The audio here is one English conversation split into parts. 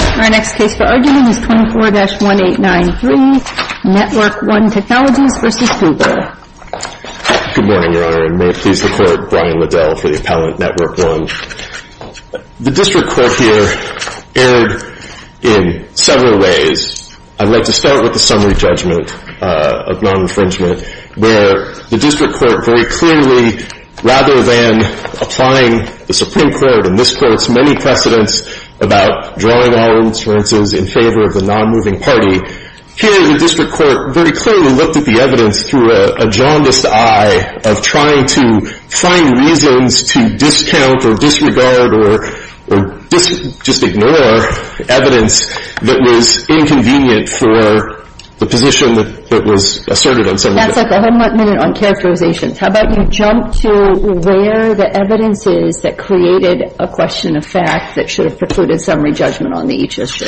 Our next case for argument is 24-1893, Network-1 Technologies v. Google. Good morning, Your Honor, and may it please the Court, Brian Liddell for the appellant, Network-1. The district court here erred in several ways. I'd like to start with the summary judgment of non-infringement, where the district court very clearly, rather than applying the Supreme Court, and this court's many precedents about drawing all inferences in favor of the non-moving party, here the district court very clearly looked at the evidence through a jaundiced eye of trying to find reasons to discount or disregard or just ignore evidence that was inconvenient for the position that was asserted in summary judgment. That's it. I haven't got a minute on characterizations. How about you jump to where the evidence is that created a question of fact that should have precluded summary judgment on the each issue.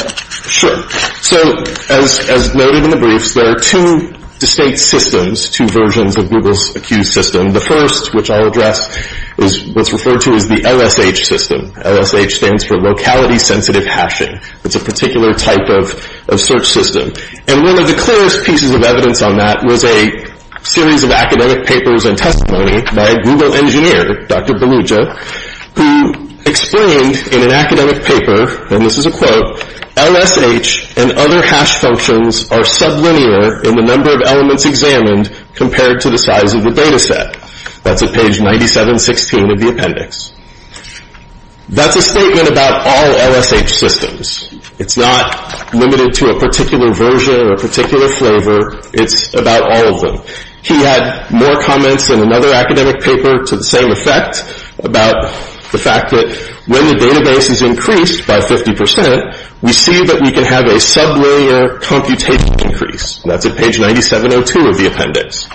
Sure. So, as noted in the briefs, there are two distinct systems, two versions of Google's accused system. The first, which I'll address, is what's referred to as the LSH system. LSH stands for locality-sensitive hashing. It's a particular type of search system. And one of the clearest pieces of evidence on that was a series of academic papers and testimony by a Google engineer, Dr. Belugia, who explained in an academic paper, and this is a quote, LSH and other hash functions are sub-linear in the number of elements examined compared to the size of the data set. That's at page 9716 of the appendix. That's a statement about all LSH systems. It's not limited to a particular version or a particular flavor. It's about all of them. He had more comments in another academic paper to the same effect about the fact that when the database is increased by 50 percent, we see that we can have a sub-layer computation increase. That's at page 9702 of the appendix.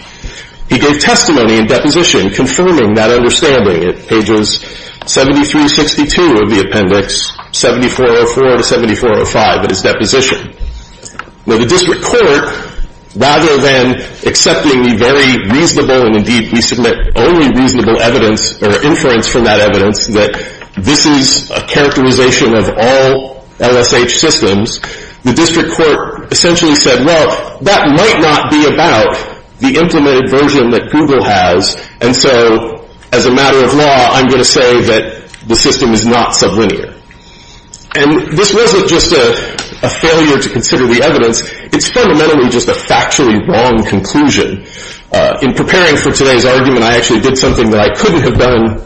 He gave testimony in deposition confirming that understanding at pages 7362 of the appendix, 7404 to 7405 of his deposition. Now, the district court, rather than accepting the very reasonable, and indeed we submit only reasonable evidence or inference from that evidence, that this is a characterization of all LSH systems, the district court essentially said, well, that might not be about the implemented version that Google has, and so as a matter of law, I'm going to say that the system is not sub-linear. And this wasn't just a failure to consider the evidence. It's fundamentally just a factually wrong conclusion. In preparing for today's argument, I actually did something that I couldn't have done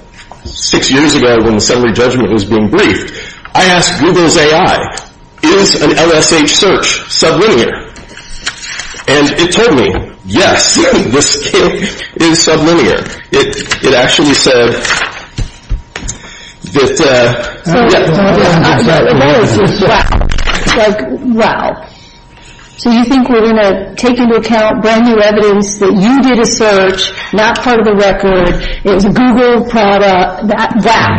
six years ago when the summary judgment was being briefed. I asked Google's AI, is an LSH search sub-linear? And it told me, yes, this is sub-linear. It actually said that, yeah. So the analysis, wow. Like, wow. So you think we're going to take into account brand new evidence that you did a search, not part of the record, it was a Google product, that, wow.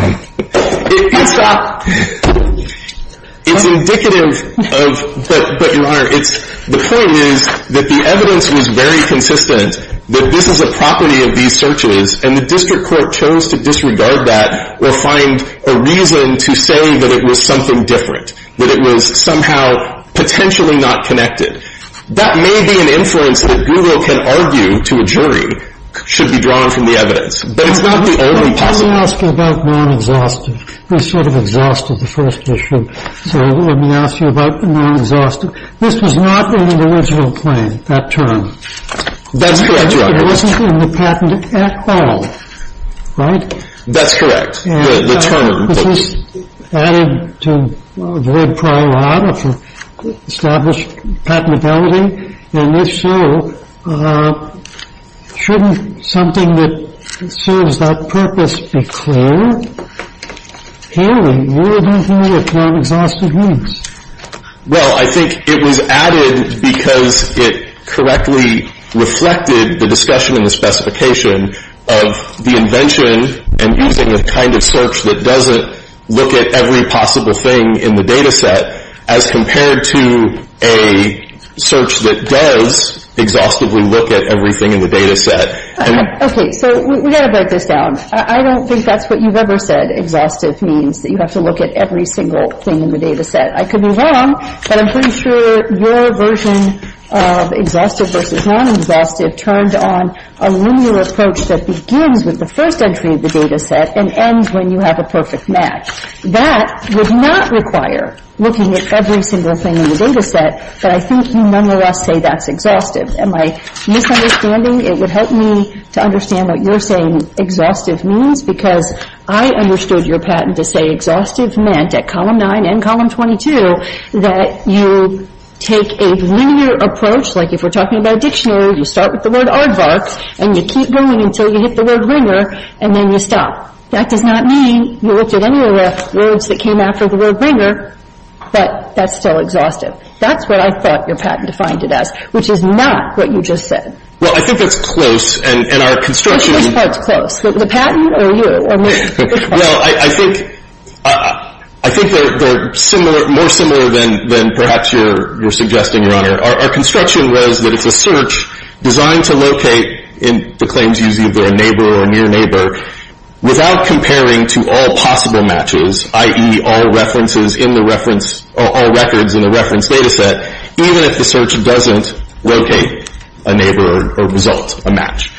It's indicative of, but Your Honor, it's, the point is that the evidence was very consistent that this is a property of these searches, and the district court chose to disregard that or find a reason to say that it was something different, that it was somehow potentially not connected. That may be an influence that Google can argue to a jury should be drawn from the evidence. But it's not the only possibility. Let me ask you about non-exhaustive. We sort of exhausted the first issue. So let me ask you about non-exhaustive. This was not in the original claim, that term. That's correct, Your Honor. It wasn't in the patent at all, right? That's correct, the term. This was added to a very prior lot of established patentability, and if so, shouldn't something that serves that purpose be clear? Clearly, you were doing things with non-exhaustive means. Well, I think it was added because it correctly reflected the discussion and the specification of the invention and using a kind of search that doesn't look at every possible thing in the data set as compared to a search that does exhaustively look at everything in the data set. Okay, so we've got to break this down. I don't think that's what you've ever said. Exhaustive means that you have to look at every single thing in the data set. I could be wrong, but I'm pretty sure your version of exhaustive versus non-exhaustive turned on a linear approach that begins with the first entry of the data set and ends when you have a perfect match. That would not require looking at every single thing in the data set, but I think you nonetheless say that's exhaustive. Am I misunderstanding? It would help me to understand what you're saying exhaustive means because I understood your patent to say exhaustive meant at column 9 and column 22 that you take a linear approach, like if we're talking about a dictionary, you start with the word aardvark and you keep going until you hit the word ringer and then you stop. That does not mean you looked at any of the words that came after the word ringer, but that's still exhaustive. That's what I thought your patent defined it as, which is not what you just said. Well, I think that's close and our construction... Which part's close, the patent or you? Well, I think they're more similar than perhaps you're suggesting, Your Honor. Our construction was that it's a search designed to locate, and the claims use either a neighbor or a near neighbor, without comparing to all possible matches, i.e. all records in the reference data set, even if the search doesn't locate a neighbor or result a match.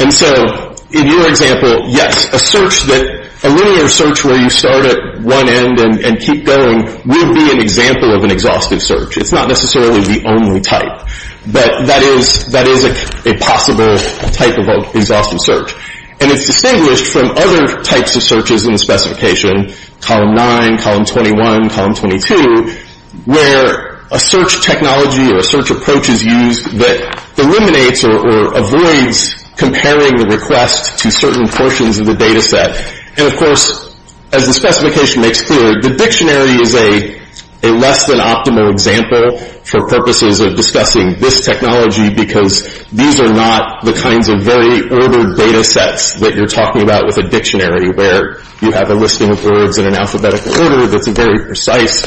And so in your example, yes, a linear search where you start at one end and keep going would be an example of an exhaustive search. It's not necessarily the only type, but that is a possible type of exhaustive search. And it's distinguished from other types of searches in the specification, Column 9, Column 21, Column 22, where a search technology or a search approach is used that eliminates or avoids comparing the request to certain portions of the data set. And, of course, as the specification makes clear, the dictionary is a less-than-optimal example for purposes of discussing this technology because these are not the kinds of very ordered data sets that you're talking about with a dictionary where you have a listing of words in an alphabetical order that's very precise.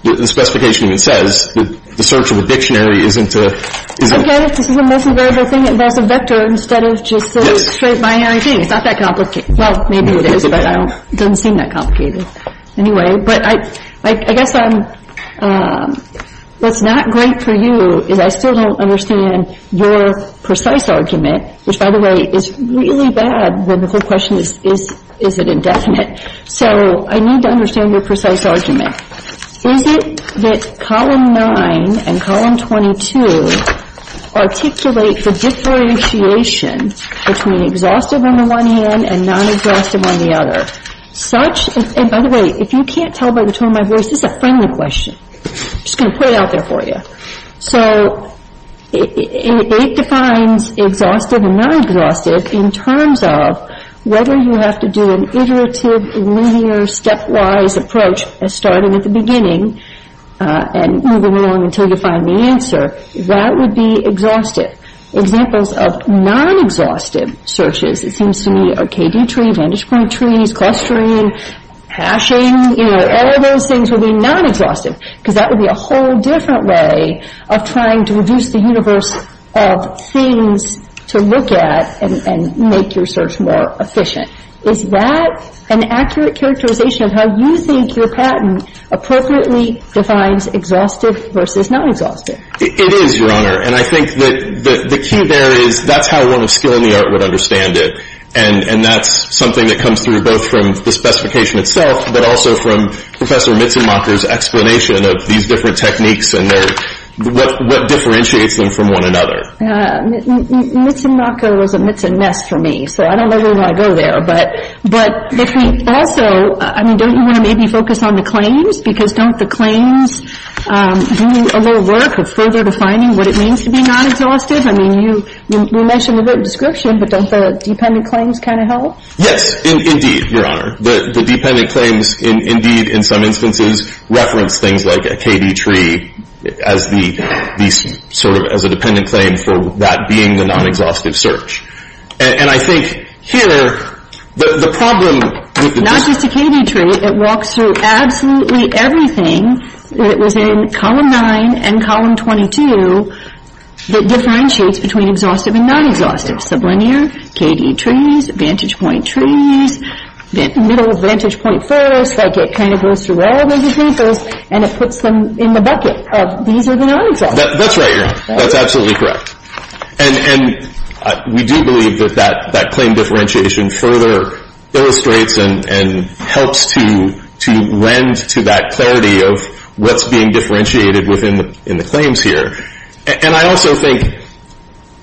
The specification even says the search of a dictionary isn't a... Okay, this is the most invariable thing. There's a vector instead of just a straight binary thing. It's not that complicated. Well, maybe it is, but it doesn't seem that complicated. Anyway, but I guess what's not great for you is I still don't understand your precise argument, which, by the way, is really bad when the whole question is, is it indefinite? So I need to understand your precise argument. Is it that Column 9 and Column 22 articulate the differentiation between exhaustive on the one hand and non-exhaustive on the other? And, by the way, if you can't tell by the tone of my voice, this is a friendly question. I'm just going to put it out there for you. So it defines exhaustive and non-exhaustive in terms of whether you have to do an iterative, linear, stepwise approach starting at the beginning and moving along until you find the answer. What would be exhaustive? Examples of non-exhaustive searches, it seems to me, are KD tree, vantage point trees, clustering, hashing, you know, all of those things would be non-exhaustive because that would be a whole different way of trying to reduce the universe of things to look at and make your search more efficient. Is that an accurate characterization of how you think your patent appropriately defines exhaustive versus non-exhaustive? It is, Your Honor. And I think that the key there is that's how one of skill in the art would understand it. And that's something that comes through both from the specification itself but also from Professor Mitzenmacher's explanation of these different techniques and what differentiates them from one another. Mitzenmacher was a Mitzen mess for me. So I don't know where I want to go there. But also, I mean, don't you want to maybe focus on the claims? Because don't the claims do a little work of further defining what it means to be non-exhaustive? I mean, you mentioned the written description, but don't the dependent claims kind of help? Yes, indeed, Your Honor. The dependent claims, indeed, in some instances, reference things like a KD tree as the sort of as a dependent claim for that being the non-exhaustive search. And I think here the problem with this... Not just a KD tree. It walks through absolutely everything that was in Column 9 and Column 22 that differentiates between exhaustive and non-exhaustive. Sublinear, KD trees, vantage point trees, middle vantage point first, like it kind of goes through all those examples and it puts them in the bucket of these are the non-exhaustive. That's right, Your Honor. That's absolutely correct. And we do believe that that claim differentiation further illustrates and helps to lend to that clarity of what's being differentiated within the claims here. And I also think,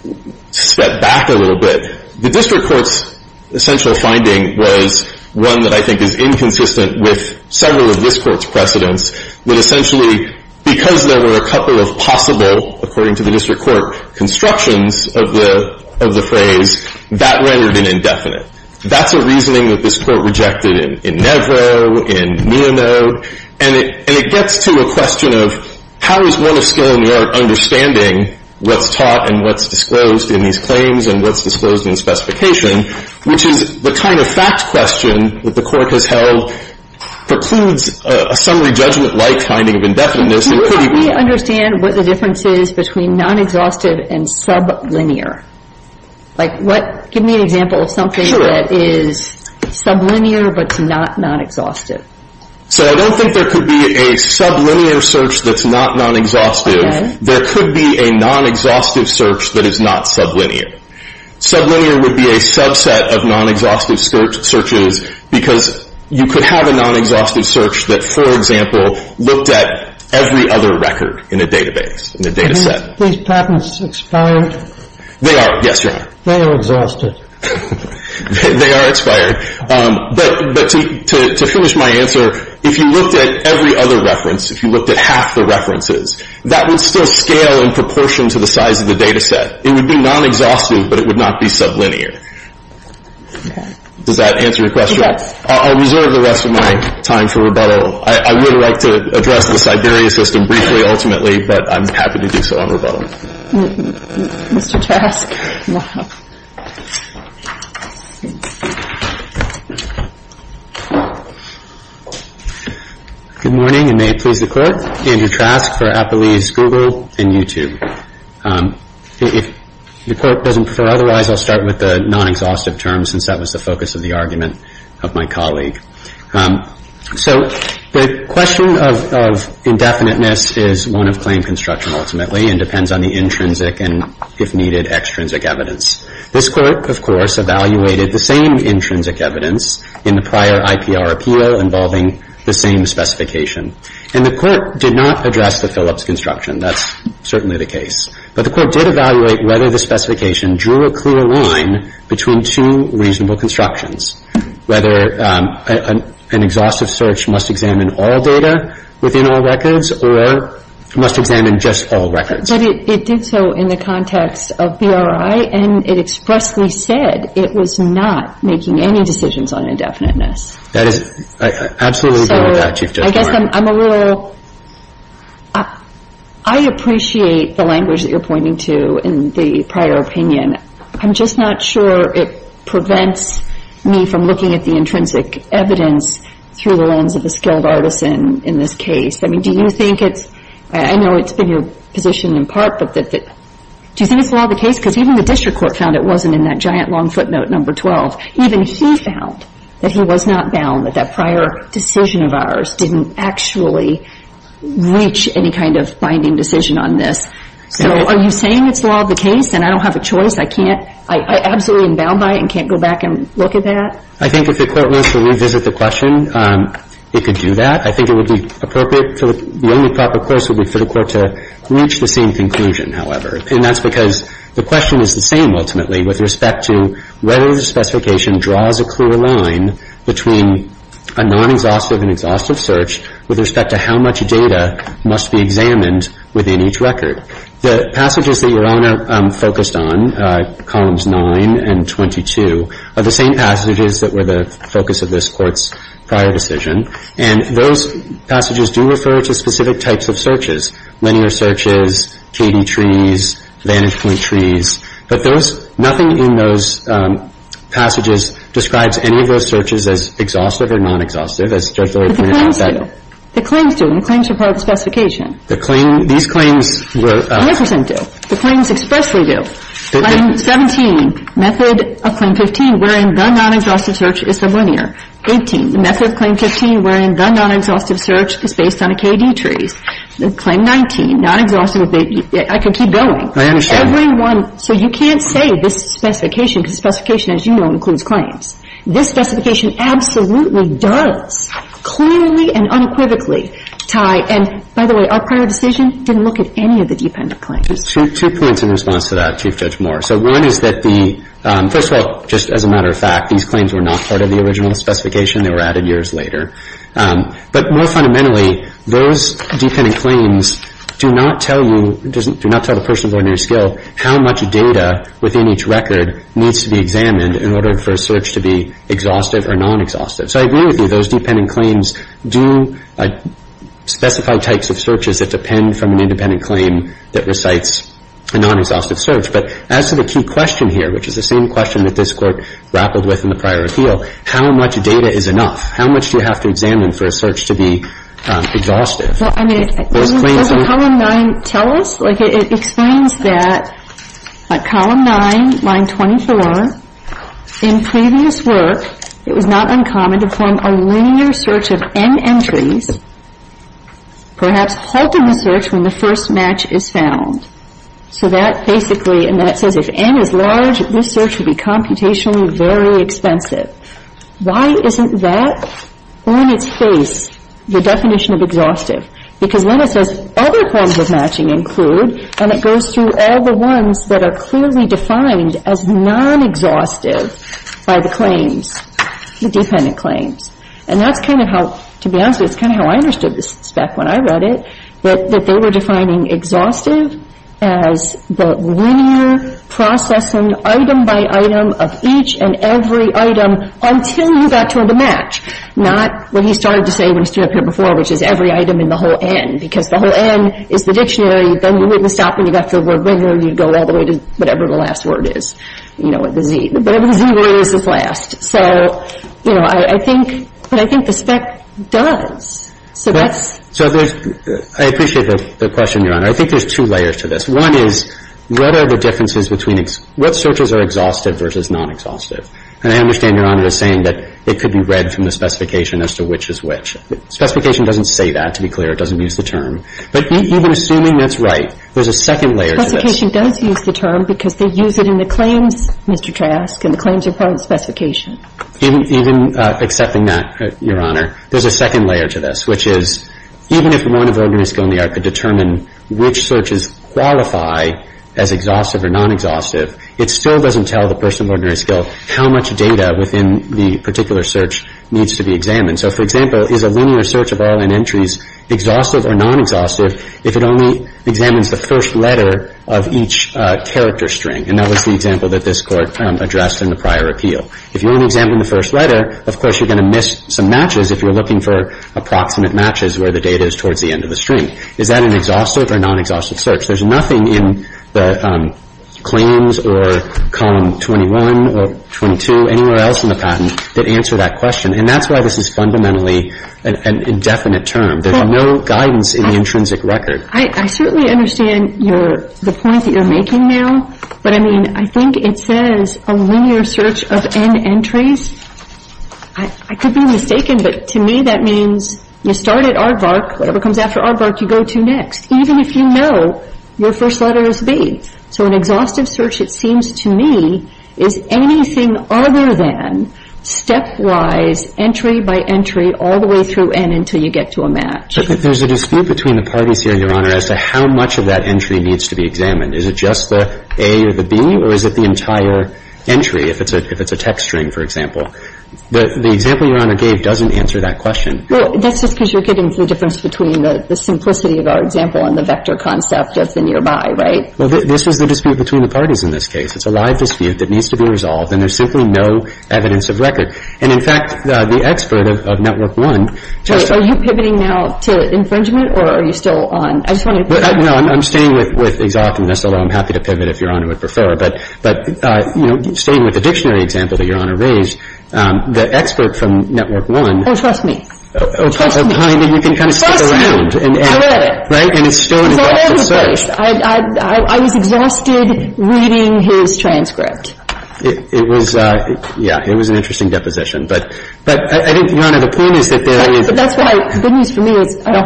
to step back a little bit, the District Court's essential finding was one that I think is inconsistent with several of this Court's precedents, that essentially because there were a couple of possible, according to the District Court, constructions of the phrase, that rendered an indefinite. That's a reasoning that this Court rejected in Nevro, in Neonode, and it gets to a question of how is one of skill in the art understanding what's taught and what's disclosed in these claims and what's disclosed in specification, which is the kind of fact question that the Court has held precludes a summary judgment-like finding of indefiniteness. Can you help me understand what the difference is between non-exhaustive and sublinear? Give me an example of something that is sublinear but not non-exhaustive. So I don't think there could be a sublinear search that's not non-exhaustive. There could be a non-exhaustive search that is not sublinear. Sublinear would be a subset of non-exhaustive searches because you could have a non-exhaustive search that, for example, looked at every other record in a database, in a data set. Are these patents expired? They are, yes, Your Honor. They are exhausted. They are expired. But to finish my answer, if you looked at every other reference, if you looked at half the references, that would still scale in proportion to the size of the data set. It would be non-exhaustive, but it would not be sublinear. Does that answer your question? Yes. I'll reserve the rest of my time for rebuttal. I would like to address the Siberia system with a rebuttal. Mr. Trask. Good morning, and may it please the Court. Andrew Trask for Applease, Google, and YouTube. If the Court doesn't prefer otherwise, I'll start with the non-exhaustive terms since that was the focus of the argument of my colleague. So the question of indefiniteness is one of claim construction, ultimately, and it depends on the intrinsic and, if needed, extrinsic evidence. This Court, of course, evaluated the same intrinsic evidence in the prior IPR appeal involving the same specification. And the Court did not address the Phillips construction. That's certainly the case. But the Court did evaluate whether the specification drew a clear line between two reasonable constructions, whether an exhaustive search must examine all data and whether there is no It did so in the context of BRI, and it expressly said it was not making any decisions on indefiniteness. I absolutely agree with that, Chief Justice Martin. I appreciate the language that you're pointing to in the prior opinion. I'm just not sure it prevents me from looking at the intrinsic evidence through the lens of a skilled artisan in this case. I mean, do you think it's I know it's been your position in part, but do you think it's the law of the case? Because even the district court found it wasn't in that giant long footnote number 12. Even he found that he was not bound that that prior decision of ours didn't actually reach any kind of binding decision on this. So are you saying it's the law of the case and I don't have a choice? I absolutely am bound by it because it's the law of the case. I think it could do that. I think it would be appropriate the only proper course would be for the court to reach the same conclusion, however. And that's because the question is the same ultimately with respect to whether the specification draws a clear line between a non-exhaustive and exhaustive search with respect to how much data must be examined within each record. The passages that Your Honor focused on, columns 9 and 22, are the same passages that were the focus of this court's prior decision. And those passages do refer to specific types of searches. Linear searches, KD trees, vantage point trees. But nothing in those passages describes any of those searches as exhaustive or non-exhaustive as Judge Lawyer pointed out. But the claims do. The claims do, and the claims are part of the specification. The claims, these claims were 100% do. The claims expressly do. Claim 17, method of claim 15 wherein the non-exhaustive search is the linear. 18, the method of claim 15 wherein the non-exhaustive search is based on a KD tree. Claim 19, non-exhaustive, I could keep going. Clearly and unequivocally, Ty, and by the way, our prior decision didn't look at any of the dependent claims. Two points in response to that, Chief Judge Moore. So one is that the, first of all, just as a matter of fact, these claims were not part of the original specification. They were added years later. But more fundamentally, those dependent claims do not tell you, do not tell the person of ordinary skill how much data is enough for a search to be Those dependent claims do specify types of searches that depend from an independent claim that recites a non-exhaustive search. But as to the key question here, which is the same question that this Court grappled with in the prior appeal, how much data is enough? How much do you have to examine for a search to be exhaustive? Well, I mean, doesn't Column 9 tell us? Like, it explains that at Column 9, Line 24, in previous work, it was not uncommon to form a linear search of n entries, perhaps halting the search when the first match is found. So that basically, and that says if n is large, this search would be computationally very expensive. Why isn't that on its face, the definition of exhaustive? Because when it says other forms of matching include, and it goes through all the ones that are clearly defined as non-exhaustive by the claims, the dependent claims. And that's kind of how, to be honest with you, that's kind of how I understood this spec when I read it, that they were defining exhaustive as the linear processing item by item of each and every item until you got to a match, not what he started to say when whole n, because the whole n is the dictionary, but you wouldn't stop when you got to the word regular, you'd go all the way to whatever the last word is, you know, what the Z, whatever the Z word is, is last. So, you know, I think, but I think the spec does. So that's... I appreciate the question, Your Honor. I think there's two layers to this. One is what are the differences between, what searches are exhaustive versus non-exhaustive? And I understand Your Honor is saying that it could be read from the specification as to which is which. Specification doesn't say that, to be clear. It doesn't use the term. But even assuming that's right, there's a second layer to this. The second layer is that could determine which searches qualify as exhaustive or non-exhaustive, it still doesn't tell the person of ordinary skill how much data within the particular search needs to be examined. So, for example, is a linear search of all n entries exhaustive or non-exhaustive if it only examines the first letter of each character is that an exhaustive or non-exhaustive search? There's nothing in the claims or column 21 or 22 anywhere else in the patent that answer that question. And that's why this is fundamentally an indefinite term. There's no guidance in the intrinsic record. I certainly understand the point that you're making now. But I mean, I think it says a linear search of n entries. I could be wrong. I'm not sure. the next, even if you know your first letter is b. So an exhaustive search, it seems to me, is anything other than stepwise, entry by entry, all the way through n until you get to a match. between the parties here, Your Honor, as to how much of that entry needs to be examined. Is it just the a or the b or is it the entire entry, if it's a text string, for example? The example Your Honor gave doesn't answer that question. Well, that's just because you're getting to the difference between the simplicity of our example and the vector concept of what we're trying to I'm staying with exhaustiveness, although I'm happy to pivot if Your Honor would prefer. But staying with the dictionary example that Your Honor raised, the expert from Network One Oh, trust me. can kind of stick around. And it's still an exhaustive search. I was exhausted reading it, so I don't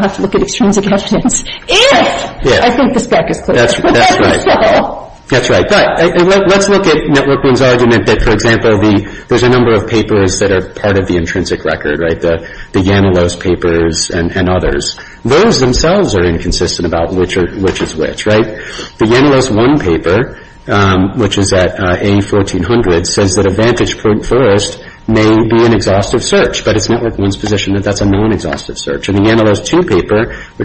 have to look at extrinsic questions if I think the spec is clear. That's right. But let's look at Network One's argument that, for example, there's a number of papers that are part of the intrinsic record, the Yanolos papers and others. Those themselves are inconsistent about which is which. The Yanolos paper, which is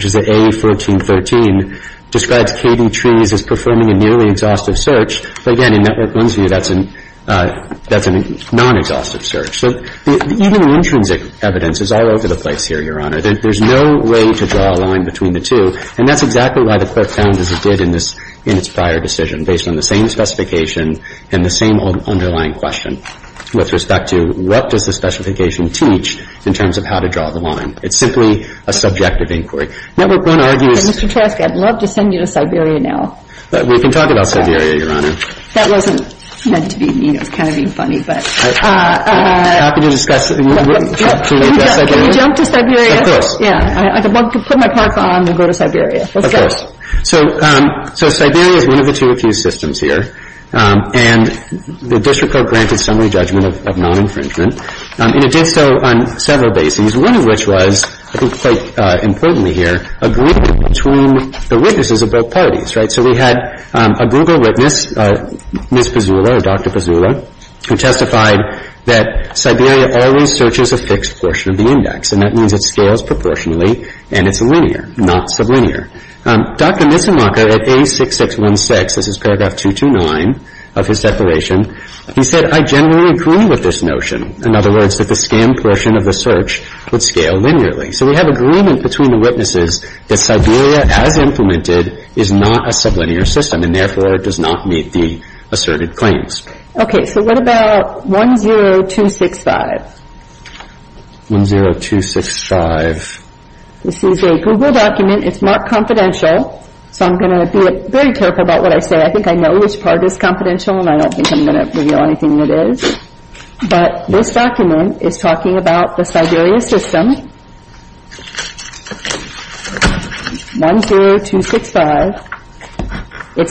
the A1413, describes KD trees as performing a nearly exhaustive search, but again, in Network One's view, that's a non-exhaustive search. So even intrinsic evidence is all over the place here, Your Honor. There's no way to draw a line between the two, and that's exactly why the court has decided to So let's look at that, for example, there's a number of of the intrinsic record, the Yanolos And again, the Yanolos papers are all over the place. So let's look at the Yanolos papers, and place. So let's look at the Yanolos So let's take a look at the Yanolos papers in the context of the cite article on Siberia, and we're going to happens in Siberia, going to 10265. It's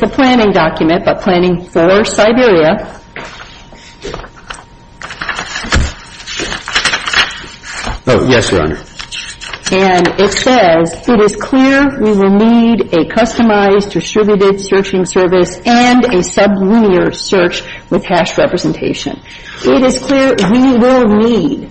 a planning document, but planning for Siberia. Oh, yes, Your Honor. And it says, it is clear we will need a customized distributed searching service and a sublinear search with hash representation. It is clear we will need.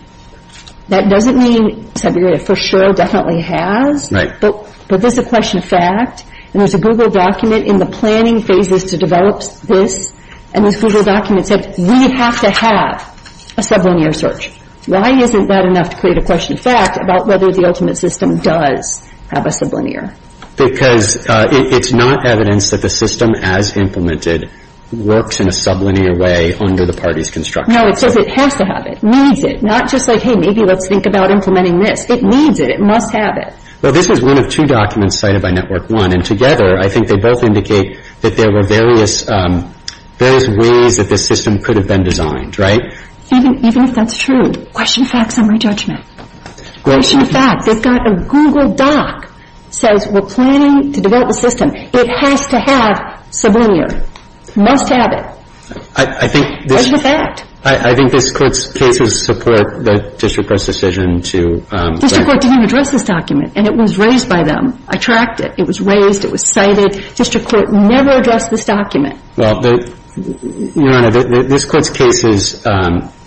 That doesn't mean Siberia for sure definitely has, but there's a question of fact, and there's a Google document in the planning phases to develop this, and this Google document said, we have to have a sublinear search. Why isn't that enough to create a question of fact about whether the ultimate system does have a sublinear? Because it's not evidence that the system as implemented works in a sublinear way under the party's construction. No, it says it has to have it, needs it. Not just like, hey, maybe let's think about implementing this. It needs it. It must have it. Well, this is one of two documents cited by Network One, and together, I think they both indicate that there were various ways that this system could have been designed, right? Even if that's true, question of fact, summary judgment. Question of fact, they've got a Google doc that says we're planning to develop the system. It has to have sublinear. Must have it. Question of fact. I think this Court's cases support the District Court's decision to District Court didn't address this document, and it was raised by them. I tracked it. It was raised. It was cited. District Court never addressed this document. Your Honor, this Court's case is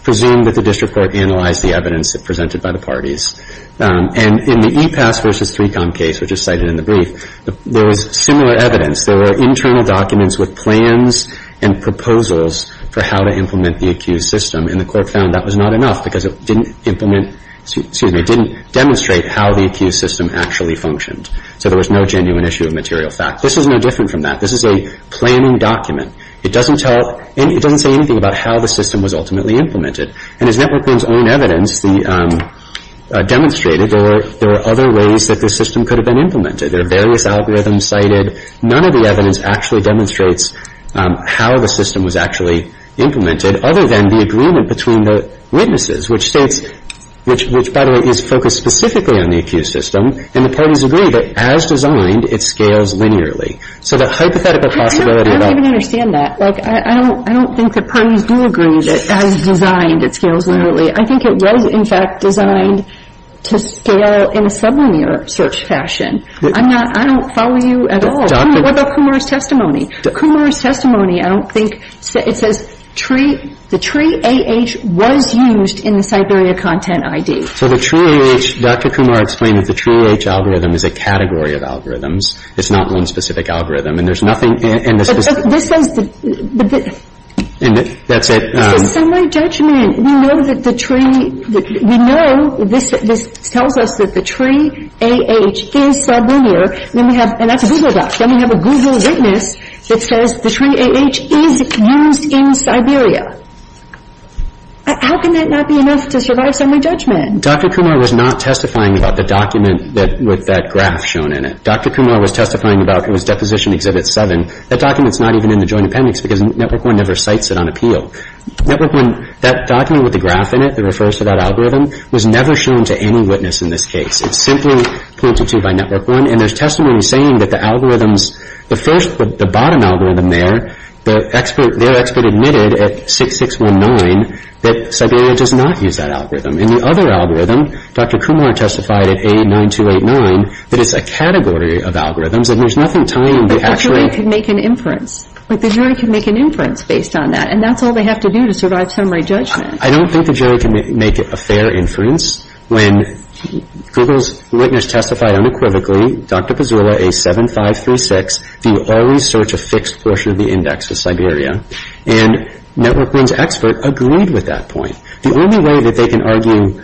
presumed that the District Court analyzed the evidence presented by the parties. In the EPAS v. 3Com case, which is cited in the brief, there was similar evidence. There were internal documents with plans and proposals for how to implement the accused system, and the Court found that was not enough because it didn't demonstrate how the accused system actually functioned. So there was no genuine issue of material fact. This is no different from that. This is a planning document. It doesn't say anything about how the system was ultimately implemented. And as Network One's own evidence demonstrated, there were other ways that this system could have been implemented. There are various algorithms cited. None of the evidence actually demonstrates how the system was actually implemented, other than the agreement between the witnesses, which states which, by the way, is focused specifically on the accused system, and the parties agree that, as designed, it scales linearly. So the hypothetical possibility of that... I don't even understand that. I don't think the parties do agree that, as designed, it scales linearly. I think it was, in fact, designed to scale in a sublinear search fashion. I don't follow you at all. What about Kumar's testimony? Kumar's testimony, I don't think... It says the tree AH was used in the Siberia Content ID. Dr. Kumar explained that the tree AH algorithm is a category of algorithms. It's not one specific algorithm, and there's nothing... This is semi-judgment. We know that the tree... We know... This tells us that the tree AH is sublinear. Then we have... And that's a Google doc. Then we have a Google witness that says the tree AH is used in Siberia. How can that not be enough to survive semi-judgment? Dr. Kumar was not testifying about the document with that graph shown in it. Dr. Kumar was testifying about... It was Deposition Exhibit 7. That document's not even in the Joint Appendix because Network One never cites it on appeal. Network One... That document with the graph in it that refers to that algorithm was never shown to any witness in this case. It's simply pointed to by Network One, and there's testimony saying that the algorithms... The first... The bottom algorithm there, the expert... Their expert admitted at 6619 that Siberia does not use that algorithm. In the other algorithm, Dr. Kumar testified at A9289 that it's a category of algorithms and there's nothing tying the actual... But the jury can make an inference. But the jury can make an inference based on that, and that's all they have to do to survive semi-judgment. I don't think the jury can make a fair inference when Google's witness testified unequivocally, Dr. Pazula, A7536, do always search a fixed portion of the index of Siberia. And Network One's expert agreed with that point. The only way that they can argue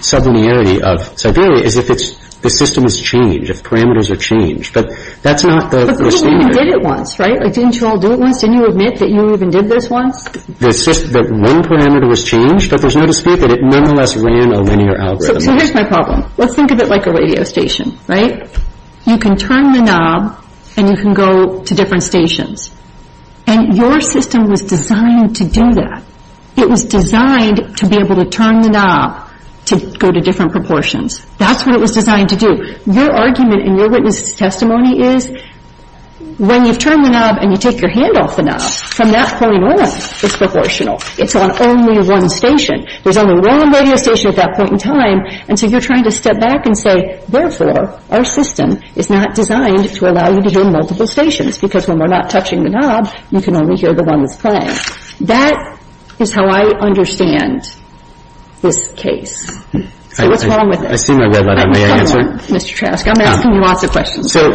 sublinearity of Siberia is if it's... The system has changed, if parameters are changed. But that's not the... But they all even did it once, right? Like, didn't you all do it once? Didn't you admit that you even did this once? The system... The one parameter was changed, but there's no dispute that it nonetheless ran a linear algorithm. So here's my problem. Let's think of it like a radio station, right? You can turn the knob and you can go to different stations. And your system was designed to do that. It was designed to be able to turn the knob to go to different proportions. That's what it was designed to do. Your argument in your witness's testimony is when you turn the knob and you take your hand off the knob, from that point on, it's proportional. It's on only one station. There's only one radio station at that point in time, and so you're trying to step back and say, therefore, our system is not designed to allow you to hear multiple stations, because when we're not touching the knob, you can only hear the one that's playing. That is how I understand this case. So what's wrong with it? I see my red light on. May I answer? Mr. Trask, I'm asking you lots of questions. So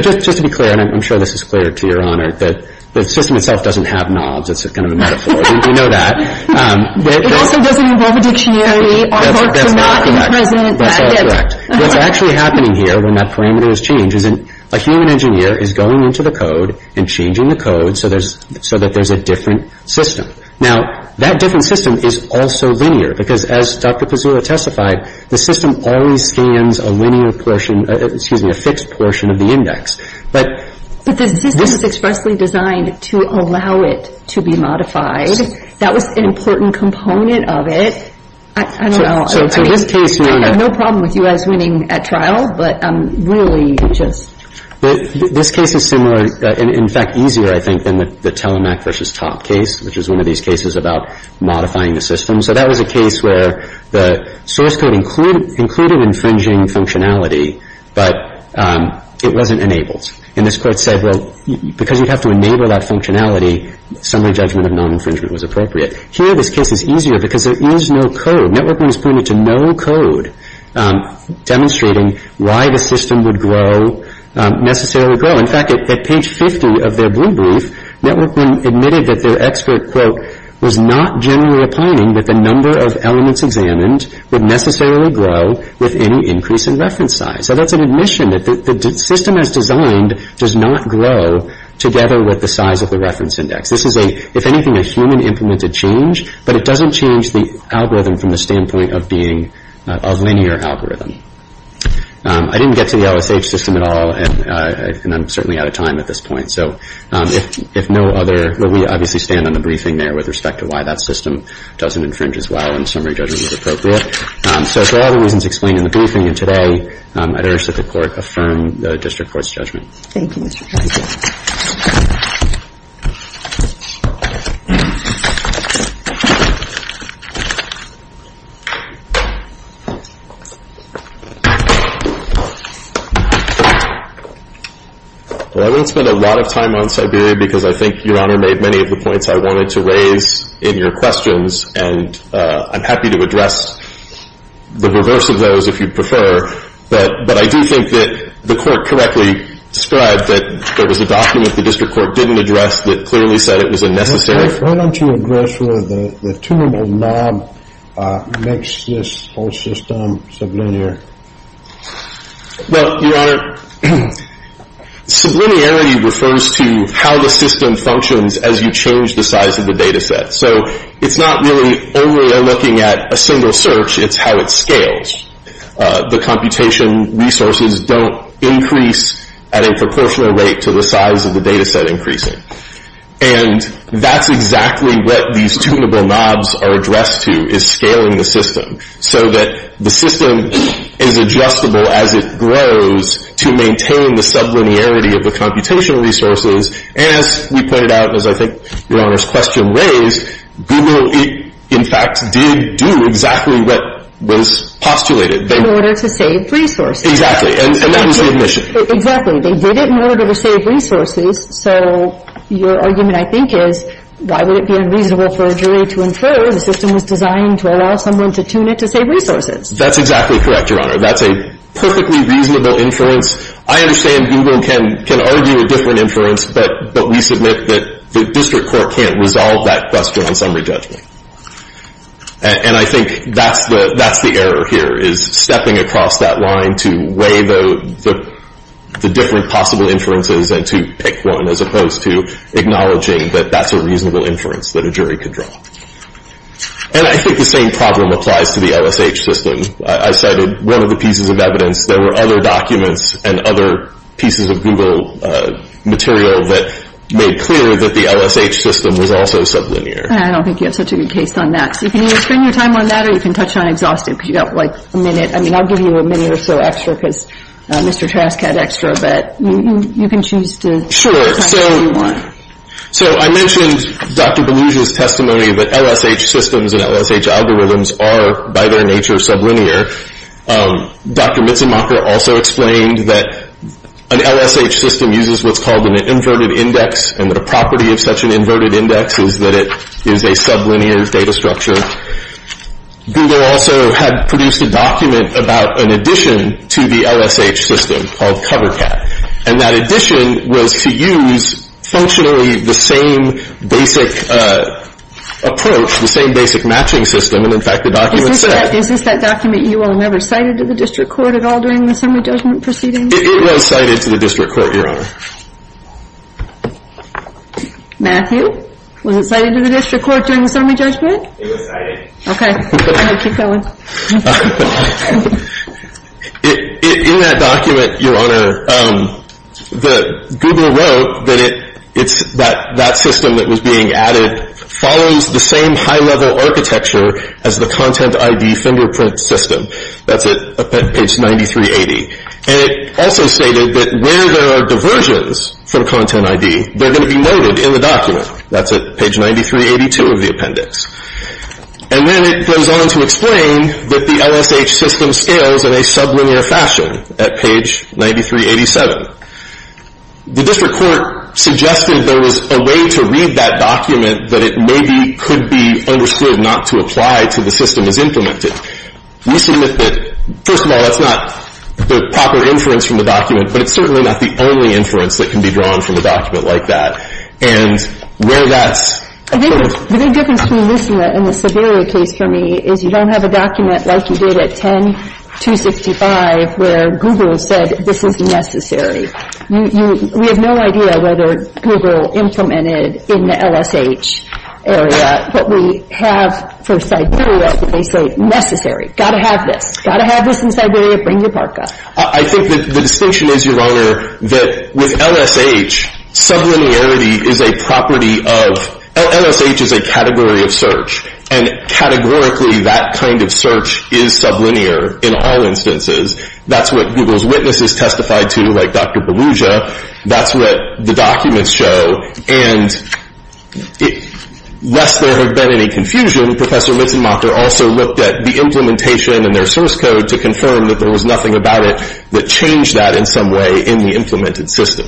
just to be clear, and I'm sure this is clear to Your Honor, that the system itself doesn't have knobs. It's kind of a metaphor. You know that. It also doesn't involve a dictionary or to not present that. That's all correct. What's actually happening here when that parameter is changed is a human engineer is going into the code and changing the code so that there's a different system. Now, that different system is also linear, because as Dr. Pizzura testified, the system always scans a fixed portion of the index. But the system is expressly designed to allow it to be modified. That was an important component of it. I don't know. I have no problem with you guys winning at trial, but really just... This case is similar, in fact, easier, I think, than the Telemac versus Top case, which is one of these cases about modifying the system. So that was a case where the source code included infringing functionality, but it wasn't enabled. And this court said, well, because you'd have to enable that functionality, summary judgment of non-infringement was appropriate. Here, this case is easier, because there is no code. Networkman is pointing to no code demonstrating why the system would necessarily grow. In fact, at page 50 of their blue brief, Networkman admitted that their expert, quote, was not generally opining that the number of elements examined would necessarily grow with any increase in reference size. So that's an admission that the system as designed does not grow together with the size of the reference index. This is a, if anything, a human-implemented change, but it doesn't change the algorithm from the standpoint of being a linear algorithm. I didn't get to the LSH system at all, and I'm certainly out of time at this point, so if no other... Well, we obviously stand on the briefing there with respect to why that system doesn't infringe as well, and summary judgment is appropriate. So for all the reasons explained in the briefing and today, I'd urge that the Court affirm the District Court's judgment. Thank you, Mr. President. Well, I wouldn't spend a lot of time on Siberia, because I think Your Honor made many of the points I wanted to raise in your questions, and I'm happy to address the reverse of those if you'd prefer, but I do think that the Court correctly described that there was a document the District Court didn't address that clearly said it was unnecessary. Why don't you address where the tunable knob makes this whole system sublinear? Well, Your Honor, sublinearity refers to how the system functions as you change the size of the data set. So it's not really overly looking at a single search, it's how it scales. The computation resources don't increase at a proportional rate to the size of the data set increasing. And that's exactly what these tunable knobs are addressed to, is scaling the system so that the system is adjustable as it grows to maintain the sublinearity of the computation resources, and as we pointed out, as I think Your Honor's question raised, Google in fact did do exactly what was postulated. In order to save resources. Exactly, and that was the admission. Exactly. They did it in order to save resources, so your argument, I think, is why would it be unreasonable for a jury to infer the system was designed to allow someone to tune it to save resources? That's exactly correct, Your Honor. That's a perfectly reasonable inference. I understand Google can argue a different inference, but we submit that the district court can't resolve that question on summary judgment. And I think that's the error here, is stepping across that line to weigh the different possible inferences and to pick one as opposed to acknowledging that that's a reasonable inference that a jury could draw. And I think the same problem applies to the LSH system. I cited one of the pieces of evidence, there were other documents and other pieces of Google material that made clear that the LSH system was also sublinear. I don't think you have such a good case on that. So you can either spend your time on that or you can touch on exhaustive, because you've got like a minute. I mean, I'll give you a minute or so extra because Mr. Trask had extra, but you can choose to. Sure. So I mentioned Dr. Belushi's testimony that LSH systems and LSH algorithms are, by their nature, sublinear. Dr. Belushi said that an LSH system uses what's called an inverted index, and the property of such an inverted index is that it is a sublinear data structure. Google also had produced a document about an addition to the LSH system called Covercat. And that addition was to use functionally the same basic approach, the same basic matching system, and in fact the document said Is this that document you all never cited to the district court at all during the summary judgment proceedings? It was cited to the district court, Your Honor. Matthew? Was it cited to the district court during the summary judgment? It was cited. Okay. Keep going. In that document, Your Honor, Google wrote that that system that was being added follows the same high-level architecture as the content ID fingerprint system. That's at page 9380. And it also stated that where there are diversions from content ID, they're going to be noted in the document. That's at page 9382 of the appendix. And then it goes on to explain that the LSH system scales in a sublinear fashion at page 9387. The district court suggested there was a way to read that document that it maybe could be understood not to apply to the system as implemented. We submit that, first of all, that's not the proper inference from the document, but it's certainly not the only inference that can be drawn from a document like that. And where that's I think the big difference between this and the Siberia case for me is you don't have a document like you did at 10-265 where Google said this is necessary. We have no idea whether Google implemented in the LSH area what we have for Siberia that they say necessary. Gotta have this. Gotta have this in Siberia. Bring your parka. I think the distinction is, Your Honor, that with LSH, sublinearity is a property of LSH is a category of search. And categorically, that kind of search is sublinear in all instances. That's what Google's witnesses testified to, like Dr. Berugia. That's what the documents show. And lest there have been any confusion, Professor Mitzemacher also looked at the implementation and their source code to confirm that there was nothing about it that changed that in some way in the implemented system.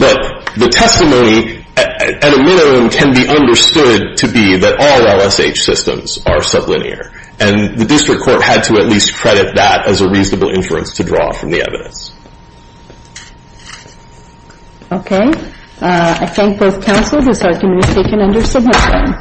But the testimony at a minimum can be understood to be that all LSH systems are sublinear. And the district court had to at least credit that as a reasonable inference to draw from the evidence. Okay. I thank both counsels. This argument is taken under submission.